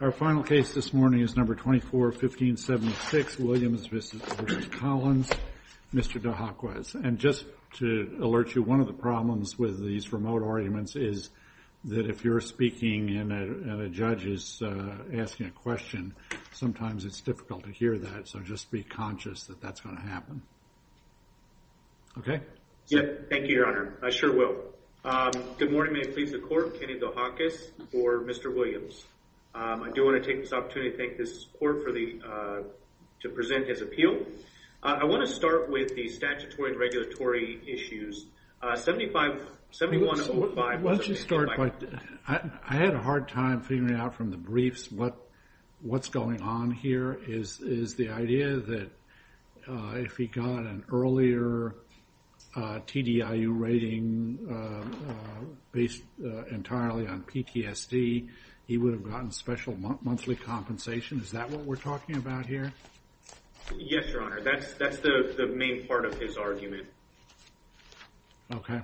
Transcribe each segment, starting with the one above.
Our final case this morning is No. 24-15-76, Williams v. Collins, Mr. Dohakis. And just to alert you, one of the problems with these remote arguments is that if you're speaking and a judge is asking a question, sometimes it's difficult to hear that, so just be conscious that that's going to happen. Okay? Thank you, Your Honor. I sure will. Good morning. May it please the Court. Kenny Dohakis for Mr. Williams. I do want to take this opportunity to thank this Court to present his appeal. I want to start with the statutory and regulatory issues. 7105 was amended by… Let's just start by – I had a hard time figuring out from the briefs what's going on here, is the idea that if he got an earlier TDIU rating based entirely on PTSD, he would have gotten special monthly compensation. Is that what we're talking about here? Yes, Your Honor. That's the main part of his argument. Okay.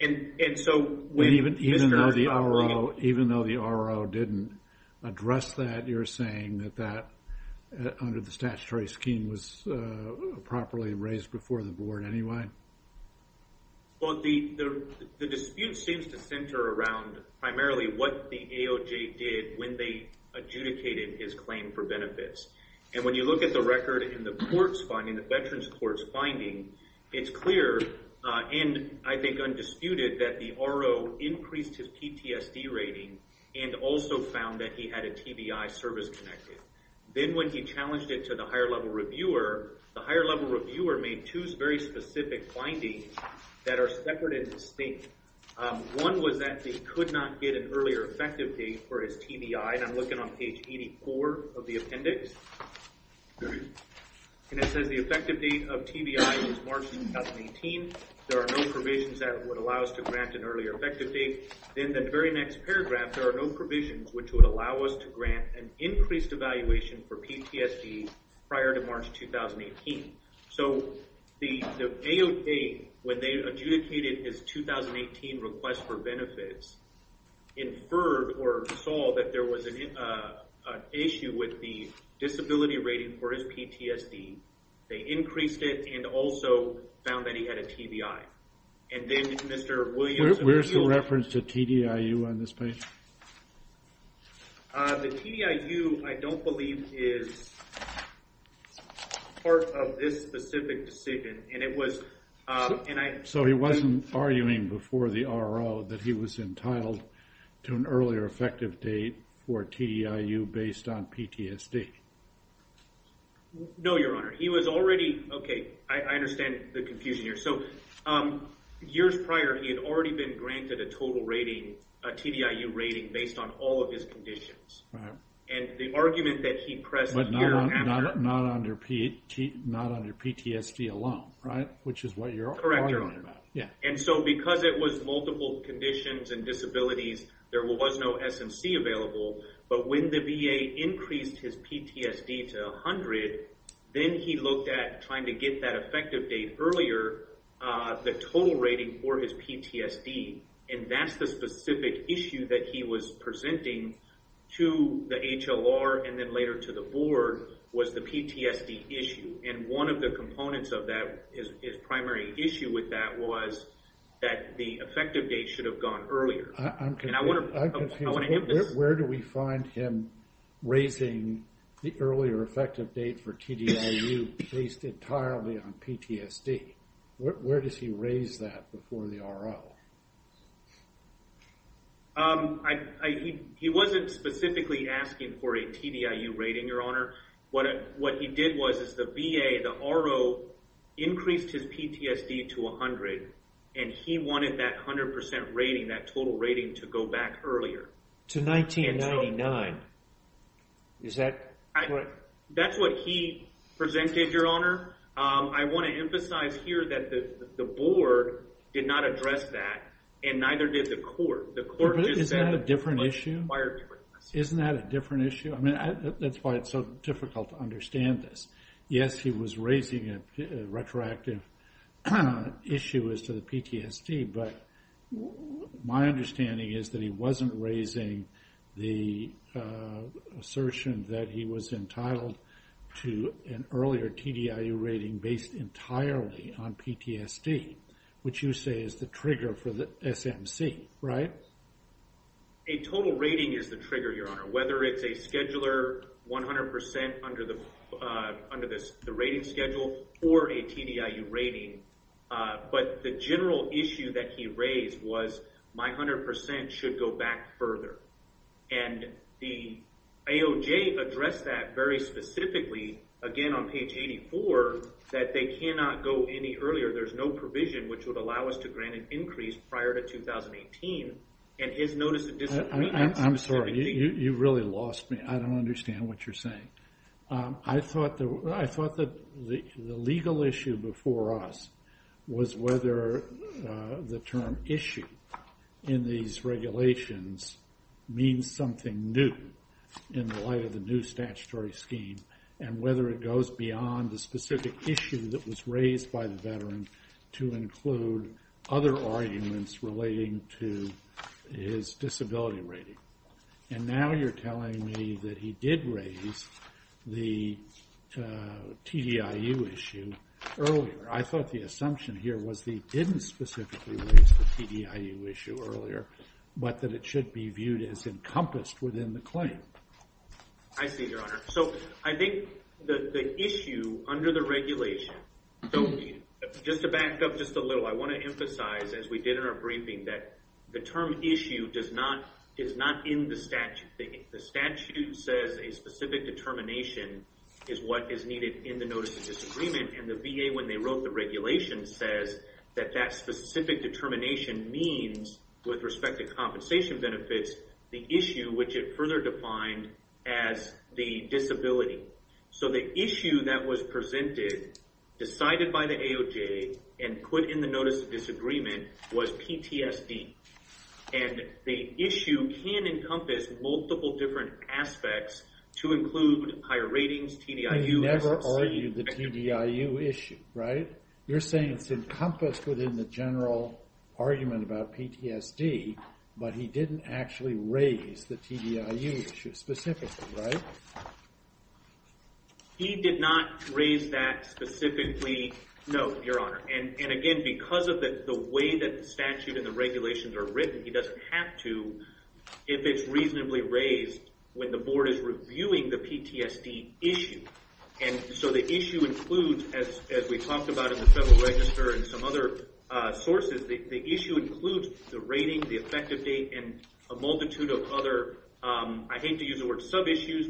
Even though the R.O. didn't address that, you're saying that that, under the statutory scheme, was properly raised before the Board anyway? Well, the dispute seems to center around primarily what the AOJ did when they adjudicated his claim for benefits. And when you look at the record in the Court's finding, the Veterans Court's finding, it's clear, and I think undisputed, that the R.O. increased his PTSD rating and also found that he had a TBI service-connected. Then when he challenged it to the higher-level reviewer, the higher-level reviewer made two very specific findings that are separate and distinct. One was that he could not get an earlier effective date for his TBI. And I'm looking on page 84 of the appendix, and it says the effective date of TBI is March 2018. There are no provisions that would allow us to grant an earlier effective date. In the very next paragraph, there are no provisions which would allow us to grant an increased evaluation for PTSD prior to March 2018. So the AOJ, when they adjudicated his 2018 request for benefits, inferred or saw that there was an issue with the disability rating for his PTSD. They increased it and also found that he had a TBI. And then Mr. Williams— Where's the reference to TDIU on this page? The TDIU, I don't believe, is part of this specific decision, and it was— So he wasn't arguing before the R.O. that he was entitled to an earlier effective date for TDIU based on PTSD? No, Your Honor. He was already—okay, I understand the confusion here. So years prior, he had already been granted a total rating, a TDIU rating, based on all of his conditions. And the argument that he pressed here— But not under PTSD alone, right, which is what you're arguing about. And so because it was multiple conditions and disabilities, there was no SMC available. But when the VA increased his PTSD to 100, then he looked at trying to get that effective date earlier, the total rating for his PTSD. And that's the specific issue that he was presenting to the HLR and then later to the board was the PTSD issue. And one of the components of that, his primary issue with that, was that the effective date should have gone earlier. I'm confused. Where do we find him raising the earlier effective date for TDIU based entirely on PTSD? Where does he raise that before the R.O.? He wasn't specifically asking for a TDIU rating, Your Honor. What he did was the VA, the R.O., increased his PTSD to 100, and he wanted that 100% rating, that total rating, to go back earlier. To 1999. Is that correct? That's what he presented, Your Honor. I want to emphasize here that the board did not address that, and neither did the court. Isn't that a different issue? Isn't that a different issue? That's why it's so difficult to understand this. Yes, he was raising a retroactive issue as to the PTSD, but my understanding is that he wasn't raising the assertion that he was entitled to an earlier TDIU rating based entirely on PTSD, which you say is the trigger for the SMC, right? A total rating is the trigger, Your Honor, whether it's a scheduler 100% under the rating schedule or a TDIU rating. But the general issue that he raised was my 100% should go back further. And the AOJ addressed that very specifically, again on page 84, that they cannot go any earlier. There's no provision which would allow us to grant an increase prior to 2018. And his notice of disagreement— I'm sorry. You really lost me. I don't understand what you're saying. I thought that the legal issue before us was whether the term issue in these regulations means something new in the light of the new statutory scheme, and whether it goes beyond the specific issue that was raised by the veteran to include other arguments relating to his disability rating. And now you're telling me that he did raise the TDIU issue earlier. I thought the assumption here was that he didn't specifically raise the TDIU issue earlier, but that it should be viewed as encompassed within the claim. I see, Your Honor. So I think the issue under the regulation—just to back up just a little, I want to emphasize, as we did in our briefing, that the term issue is not in the statute. The statute says a specific determination is what is needed in the notice of disagreement, and the VA, when they wrote the regulation, says that that specific determination means, with respect to compensation benefits, the issue which it further defined as the disability. So the issue that was presented, decided by the AOJ, and put in the notice of disagreement was PTSD. And the issue can encompass multiple different aspects to include higher ratings, TDIU— He never argued the TDIU issue, right? You're saying it's encompassed within the general argument about PTSD, but he didn't actually raise the TDIU issue specifically, right? He did not raise that specifically, no, Your Honor. And again, because of the way that the statute and the regulations are written, he doesn't have to if it's reasonably raised when the board is reviewing the PTSD issue. And so the issue includes, as we talked about in the Federal Register and some other sources, the issue includes the rating, the effective date, and a multitude of other—I hate to use the word sub-issues,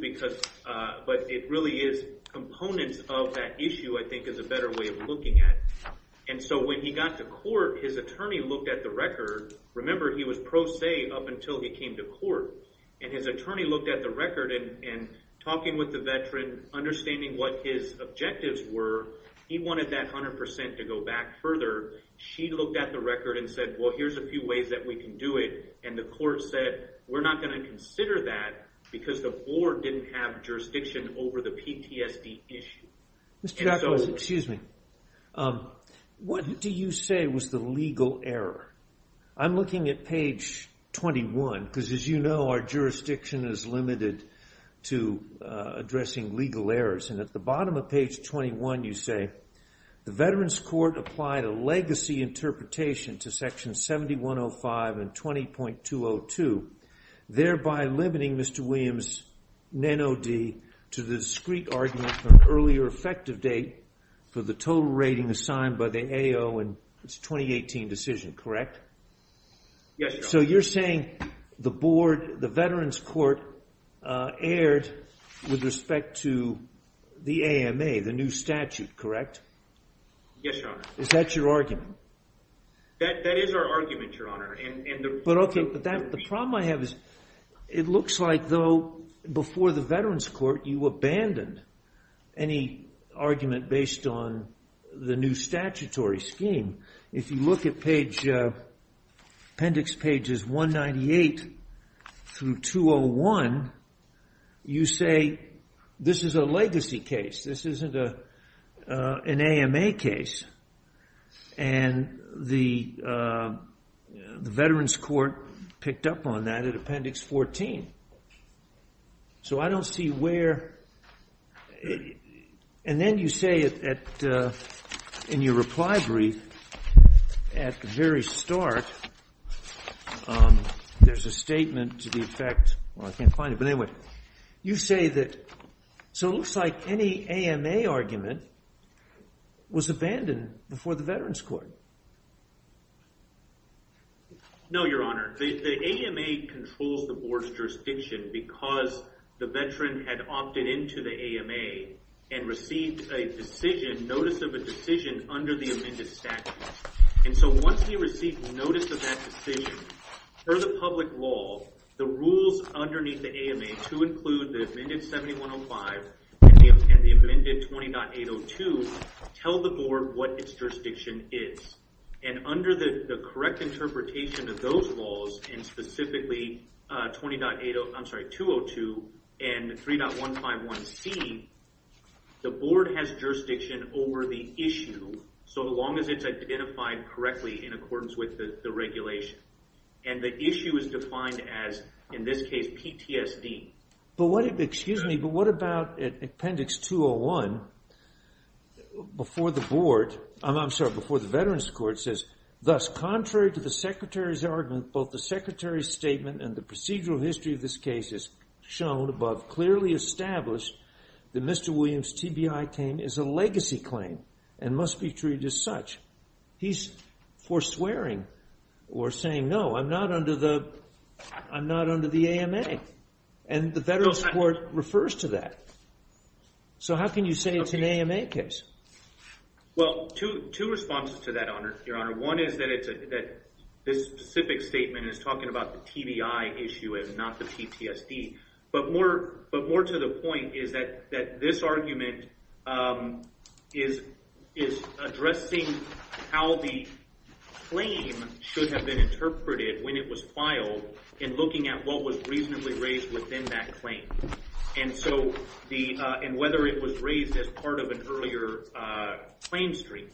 but it really is components of that issue, I think, is a better way of looking at it. And so when he got to court, his attorney looked at the record. Remember, he was pro se up until he came to court. And his attorney looked at the record, and talking with the veteran, understanding what his objectives were, he wanted that 100% to go back further. She looked at the record and said, well, here's a few ways that we can do it. And the court said, we're not going to consider that because the board didn't have jurisdiction over the PTSD issue. And so— Excuse me. What do you say was the legal error? I'm looking at page 21 because, as you know, our jurisdiction is limited to addressing legal errors. And at the bottom of page 21, you say, the Veterans Court applied a legacy interpretation to Section 7105 and 20.202, thereby limiting Mr. Williams' NANOD to the discrete argument for an earlier effective date for the total rating assigned by the AO in its 2018 decision. Correct? Yes, Your Honor. So you're saying the board, the Veterans Court, erred with respect to the AMA, the new statute. Correct? Yes, Your Honor. Is that your argument? That is our argument, Your Honor. But, okay, the problem I have is it looks like, though, before the Veterans Court, you abandoned any argument based on the new statutory scheme. If you look at appendix pages 198 through 201, you say, this is a legacy case. This isn't an AMA case. And the Veterans Court picked up on that at appendix 14. So I don't see where, and then you say in your reply brief, at the very start, there's a statement to the effect, well, I can't find it, but anyway, you say that, so it looks like any AMA argument was abandoned before the Veterans Court. No, Your Honor. The AMA controls the board's jurisdiction because the veteran had opted into the AMA and received a decision, notice of a decision, under the amended statute. And so once he received notice of that decision, per the public law, the rules underneath the AMA to include the amended 7105 and the amended 20.802 tell the board what its jurisdiction is. And under the correct interpretation of those laws, and specifically 20.80, I'm sorry, 202 and 3.151C, the board has jurisdiction over the issue, so long as it's identified correctly in accordance with the regulation. And the issue is defined as, in this case, PTSD. But what, excuse me, but what about appendix 201, before the board, I'm sorry, before the Veterans Court says, thus, contrary to the Secretary's argument, both the Secretary's statement and the procedural history of this case is shown above, clearly established that Mr. Williams' TBI claim is a legacy claim and must be treated as such. He's forswearing or saying, no, I'm not under the AMA. And the Veterans Court refers to that. So how can you say it's an AMA case? Well, two responses to that, Your Honor. One is that this specific statement is talking about the TBI issue and not the PTSD. But more to the point is that this argument is addressing how the claim should have been interpreted when it was filed and looking at what was reasonably raised within that claim and whether it was raised as part of an earlier claim stream.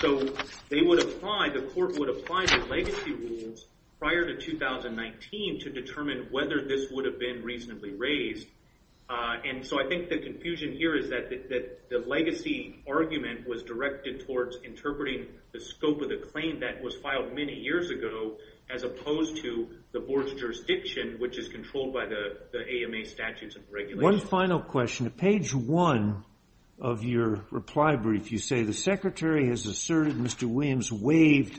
So they would apply, the court would apply the legacy rules prior to 2019 to determine whether this would have been reasonably raised. And so I think the confusion here is that the legacy argument was directed towards interpreting the scope of the claim that was filed many years ago, as opposed to the board's jurisdiction, which is controlled by the AMA statutes and regulations. One final question. Page one of your reply brief, you say, the Secretary has asserted Mr. Williams waived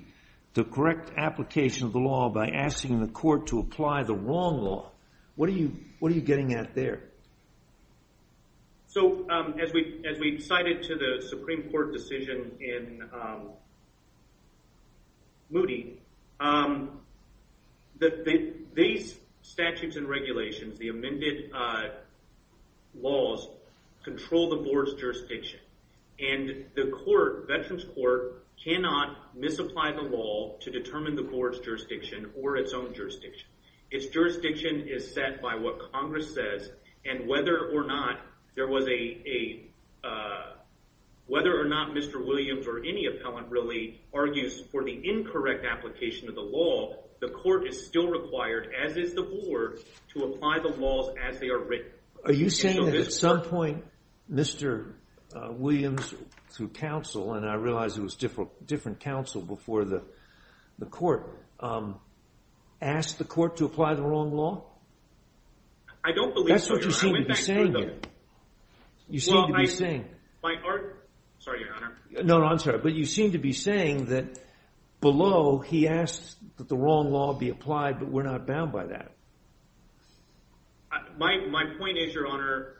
the correct application of the law by asking the court to apply the wrong law. What are you getting at there? So as we cited to the Supreme Court decision in Moody, these statutes and regulations, the amended laws, control the board's jurisdiction. And the court, Veterans Court, cannot misapply the law to determine the board's jurisdiction or its own jurisdiction. Its jurisdiction is set by what Congress says. And whether or not there was a, whether or not Mr. Williams or any appellant really argues for the incorrect application of the law, the court is still required, as is the board, to apply the laws as they are written. Are you saying that at some point Mr. Williams, through counsel, and I realize it was different counsel before the court, asked the court to apply the wrong law? I don't believe so, Your Honor. That's what you seem to be saying. You seem to be saying. Well, I, my, or, sorry, Your Honor. No, no, I'm sorry. But you seem to be saying that below, he asked that the wrong law be applied, but we're not bound by that. My, my point is, Your Honor,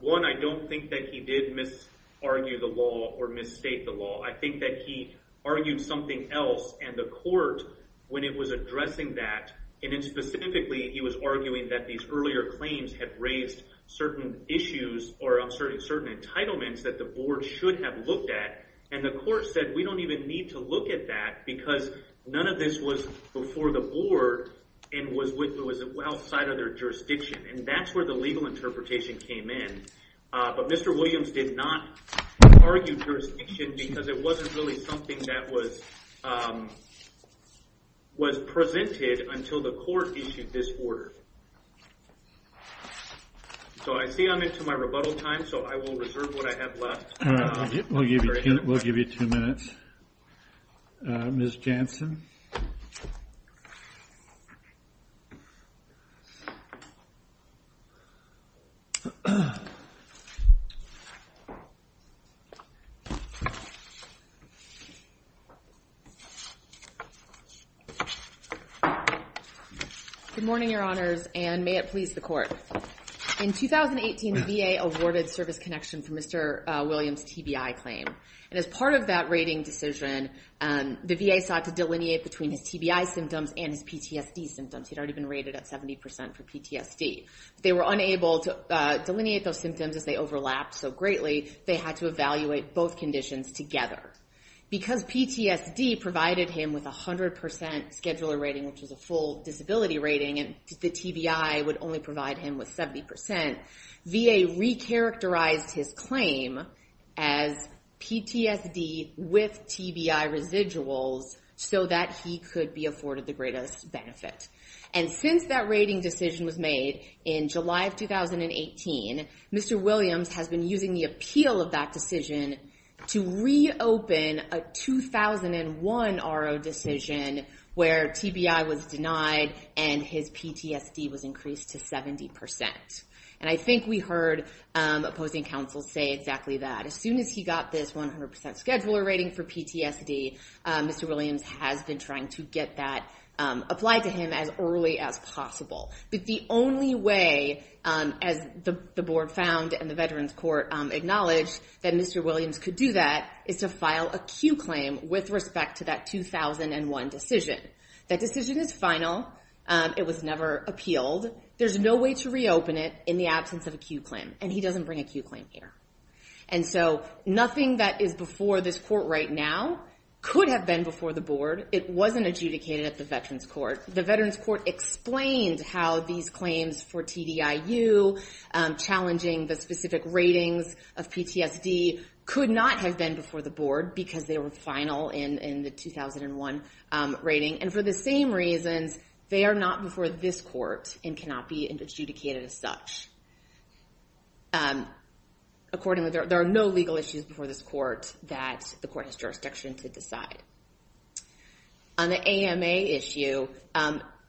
one, I don't think that he did misargue the law or misstate the law. I think that he argued something else, and the court, when it was addressing that, and then specifically he was arguing that these earlier claims had raised certain issues or certain entitlements that the board should have looked at, and the court said we don't even need to look at that because none of this was before the board and was with, was outside of their jurisdiction. And that's where the legal interpretation came in. But Mr. Williams did not argue jurisdiction because it wasn't really something that was, was presented until the court issued this order. So I see I'm into my rebuttal time, so I will reserve what I have left. We'll give you two minutes. Ms. Jansen. Good morning, Your Honors, and may it please the court. In 2018, the VA awarded service connection for Mr. Williams' TBI claim. And as part of that rating decision, the VA sought to delineate between his TBI symptoms and his PTSD symptoms. He'd already been rated at 70% for PTSD. They were unable to delineate those symptoms as they overlapped so greatly, they had to evaluate both conditions together. Because PTSD provided him with 100% scheduler rating, which was a full disability rating, and the TBI would only provide him with 70%, VA recharacterized his claim as PTSD with TBI residuals so that he could be afforded the greatest benefit. And since that rating decision was made in July of 2018, Mr. Williams has been using the appeal of that decision to reopen a 2001 RO decision where TBI was denied and his PTSD was increased to 70%. And I think we heard opposing counsel say exactly that. As soon as he got this 100% scheduler rating for PTSD, Mr. Williams has been trying to get that applied to him as early as possible. But the only way, as the board found and the Veterans Court acknowledged, that Mr. Williams could do that is to file a Q claim with respect to that 2001 decision. That decision is final. It was never appealed. There's no way to reopen it in the absence of a Q claim. And he doesn't bring a Q claim here. And so nothing that is before this court right now could have been before the board. It wasn't adjudicated at the Veterans Court. The Veterans Court explained how these claims for TDIU, challenging the specific ratings of PTSD, could not have been before the board because they were final in the 2001 rating. And for the same reasons, they are not before this court and cannot be adjudicated as such. Accordingly, there are no legal issues before this court that the court has jurisdiction to decide. On the AMA issue,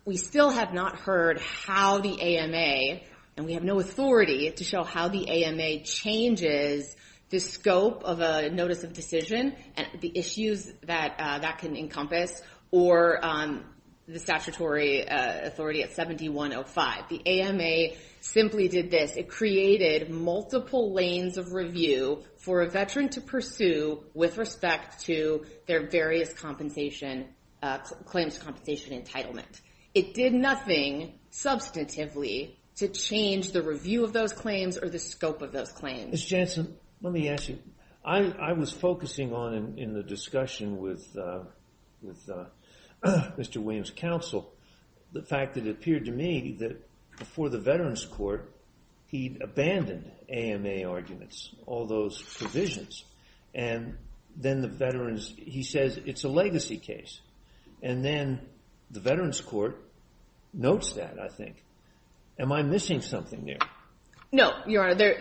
we still have not heard how the AMA, and we have no authority to show how the AMA changes the scope of a notice of decision and the issues that that can encompass, or the statutory authority at 7105. The AMA simply did this. It created multiple lanes of review for a veteran to pursue with respect to their various claims compensation entitlement. It did nothing substantively to change the review of those claims or the scope of those claims. Ms. Jansen, let me ask you. I was focusing on, in the discussion with Mr. Williams' counsel, the fact that it appeared to me that before the Veterans Court, he'd abandoned AMA arguments, all those provisions. And then the veterans, he says it's a legacy case. And then the Veterans Court notes that, I think. Am I missing something there? No, Your Honor.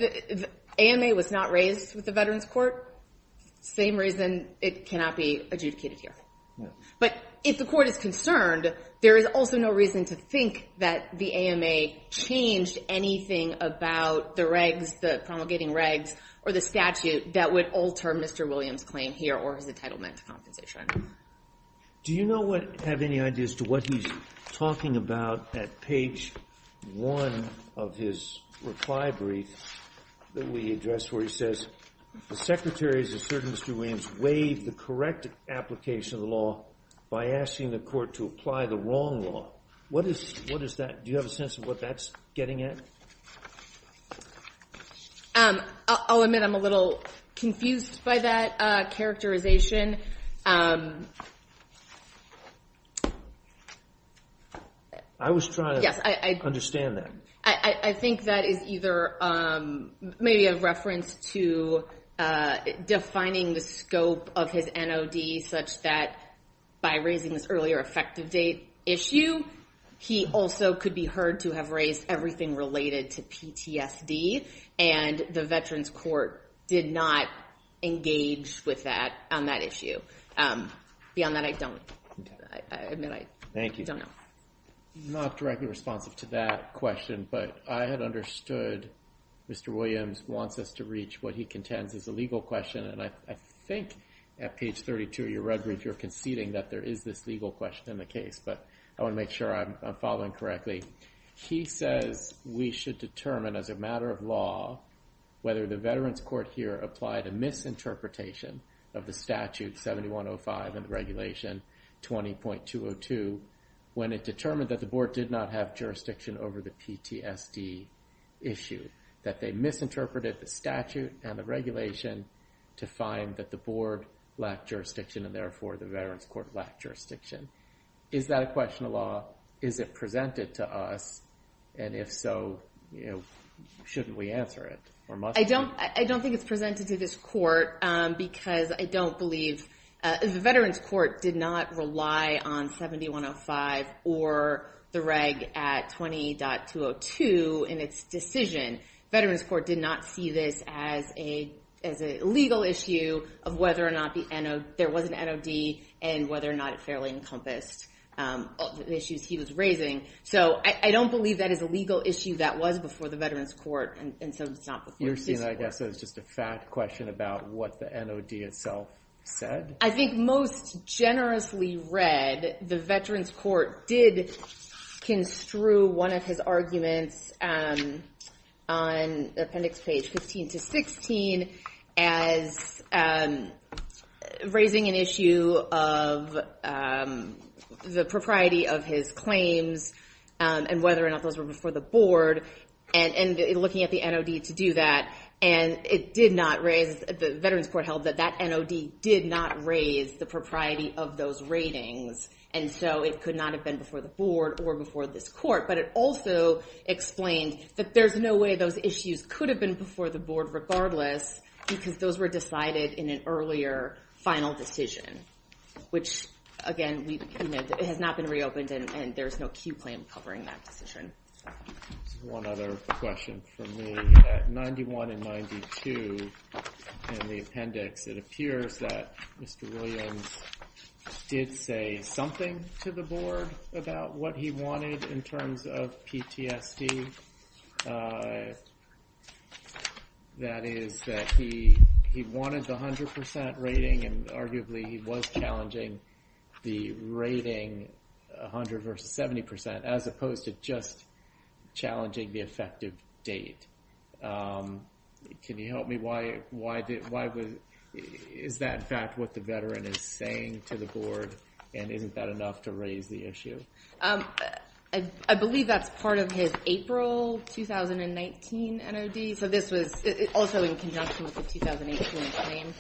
AMA was not raised with the Veterans Court. Same reason it cannot be adjudicated here. But if the court is concerned, there is also no reason to think that the AMA changed anything about the regs, the promulgating regs, or the statute that would alter Mr. Williams' claim here or his entitlement to compensation. Do you have any idea as to what he's talking about at page 1 of his reply brief that we addressed, where he says, The Secretary has asserted Mr. Williams waived the correct application of the law by asking the court to apply the wrong law. What is that? Do you have a sense of what that's getting at? I'll admit I'm a little confused by that characterization. I was trying to understand that. I think that is either maybe a reference to defining the scope of his NOD such that by raising this earlier effective date issue, he also could be heard to have raised everything related to PTSD. And the Veterans Court did not engage with that on that issue. Beyond that, I don't. I admit I don't know. I'm not directly responsive to that question, but I had understood Mr. Williams wants us to reach what he contends is a legal question. And I think at page 32 of your reply brief, you're conceding that there is this legal question in the case, but I want to make sure I'm following correctly. He says we should determine as a matter of law, whether the Veterans Court here applied a misinterpretation of the statute 7105 and the regulation 20.202, when it determined that the board did not have jurisdiction over the PTSD issue. That they misinterpreted the statute and the regulation to find that the board lacked jurisdiction and therefore the Veterans Court lacked jurisdiction. Is that a question of law? Is it presented to us? And if so, shouldn't we answer it or must we? I don't think it's presented to this court because I don't believe the Veterans Court did not rely on 7105 or the reg at 20.202 in its decision. Veterans Court did not see this as a legal issue of whether or not there was an NOD and whether or not it fairly encompassed the issues he was raising. So I don't believe that is a legal issue that was before the Veterans Court and so it's not before this court. I guess it's just a fact question about what the NOD itself said. I think most generously read, the Veterans Court did construe one of his arguments on appendix page 15 to 16 as raising an issue of the propriety of his claims and whether or not those were before the board. And looking at the NOD to do that and it did not raise, the Veterans Court held that that NOD did not raise the propriety of those ratings and so it could not have been before the board or before this court. But it also explained that there's no way those issues could have been before the board regardless because those were decided in an earlier final decision. Which again, it has not been reopened and there's no Q plan covering that decision. One other question for me. At 91 and 92 in the appendix it appears that Mr. Williams did say something to the board about what he wanted in terms of PTSD. That is that he wanted the 100% rating and arguably he was challenging the rating 100% versus 70% as opposed to just challenging the effective date. Can you help me? Is that in fact what the veteran is saying to the board and isn't that enough to raise the issue? I believe that's part of his April 2019 NOD. So this was also in conjunction with the 2018 claim.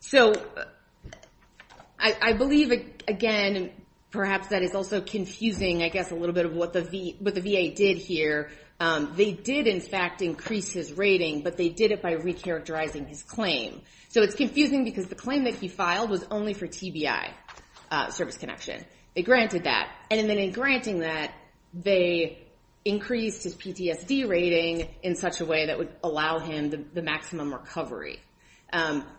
So I believe again perhaps that is also confusing I guess a little bit of what the VA did here. They did in fact increase his rating but they did it by recharacterizing his claim. So it's confusing because the claim that he filed was only for TBI service connection. They granted that and then in granting that they increased his PTSD rating in such a way that would allow him the maximum recovery.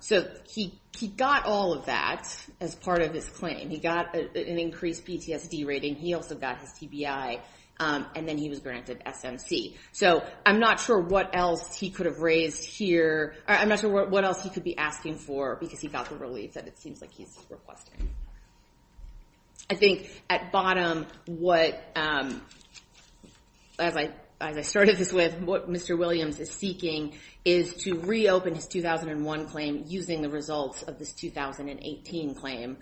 So he got all of that as part of his claim. He got an increased PTSD rating. He also got his TBI and then he was granted SMC. So I'm not sure what else he could have raised here. I'm not sure what else he could be asking for because he got the relief that it seems like he's requesting. I think at bottom what as I started this with what Mr. Williams is seeking is to reopen his 2001 claim using the results of this 2018 claim.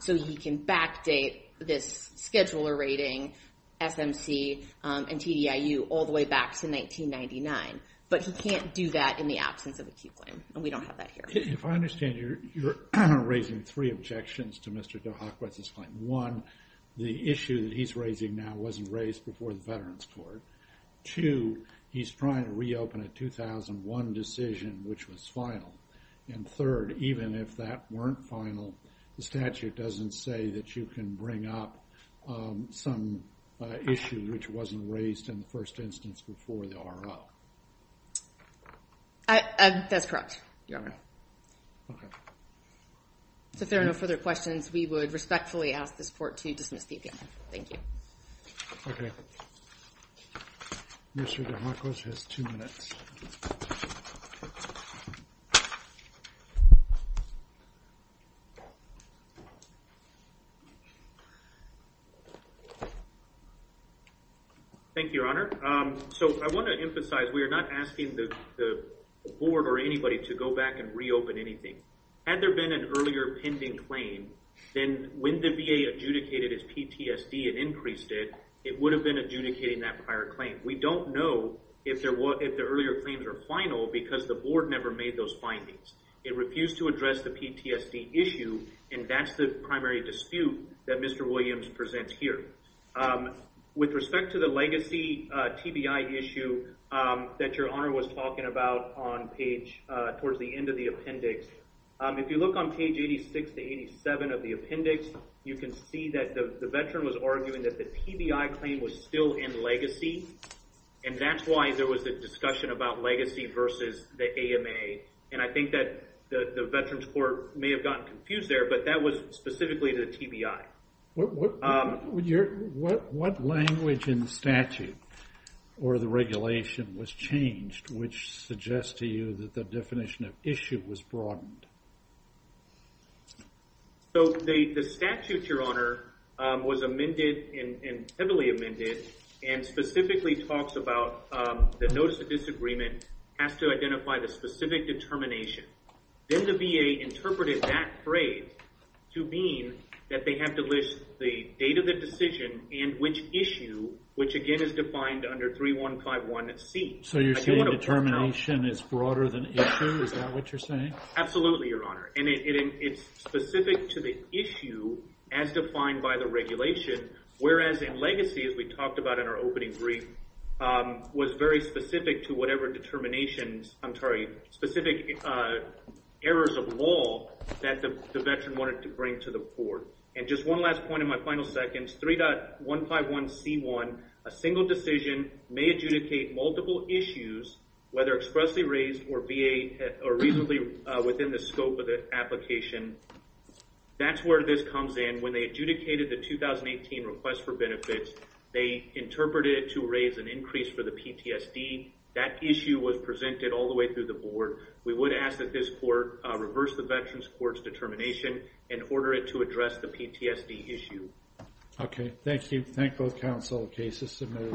So he can backdate this scheduler rating SMC and TDIU all the way back to 1999. But he can't do that in the absence of acute claim and we don't have that here. If I understand you're raising three objections to Mr. DeHakwet's claim. One, the issue that he's raising now wasn't raised before the Veterans Court. Two, he's trying to reopen a 2001 decision which was final. And third, even if that weren't final, the statute doesn't say that you can bring up some issue which wasn't raised in the first instance before the RO. That's correct, Your Honor. Okay. So if there are no further questions, we would respectfully ask this court to dismiss the opinion. Thank you. Okay. Mr. DeHakwet has two minutes. Thank you, Your Honor. So I want to emphasize we are not asking the board or anybody to go back and reopen anything. Had there been an earlier pending claim, then when the VA adjudicated as PTSD and increased it, it would have been adjudicating that prior claim. We don't know if the earlier claims are final because the board never made those findings. It refused to address the PTSD issue, and that's the primary dispute that Mr. Williams presents here. With respect to the legacy TBI issue that Your Honor was talking about on page towards the end of the appendix, if you look on page 86 to 87 of the appendix, you can see that the veteran was arguing that the TBI claim was still in legacy, and that's why there was a discussion about legacy versus the AMA. And I think that the veterans court may have gotten confused there, but that was specifically to the TBI. What language in the statute or the regulation was changed which suggests to you that the definition of issue was broadened? So the statute, Your Honor, was amended and heavily amended and specifically talks about the notice of disagreement has to identify the specific determination. Then the VA interpreted that phrase to mean that they have to list the date of the decision and which issue, which again is defined under 3151C. So you're saying determination is broader than issue? Is that what you're saying? Absolutely, Your Honor, and it's specific to the issue as defined by the regulation, whereas in legacy, as we talked about in our opening brief, was very specific to whatever determinations, I'm sorry, specific errors of law that the veteran wanted to bring to the court. And just one last point in my final seconds, 3.151C1, a single decision may adjudicate multiple issues, whether expressly raised or VA, or reasonably within the scope of the application. That's where this comes in. When they adjudicated the 2018 request for benefits, they interpreted it to raise an increase for the PTSD. That issue was presented all the way through the board. We would ask that this court reverse the Veterans Court's determination and order it to address the PTSD issue. Okay, thank you. Thank both counsel. The case is submitted.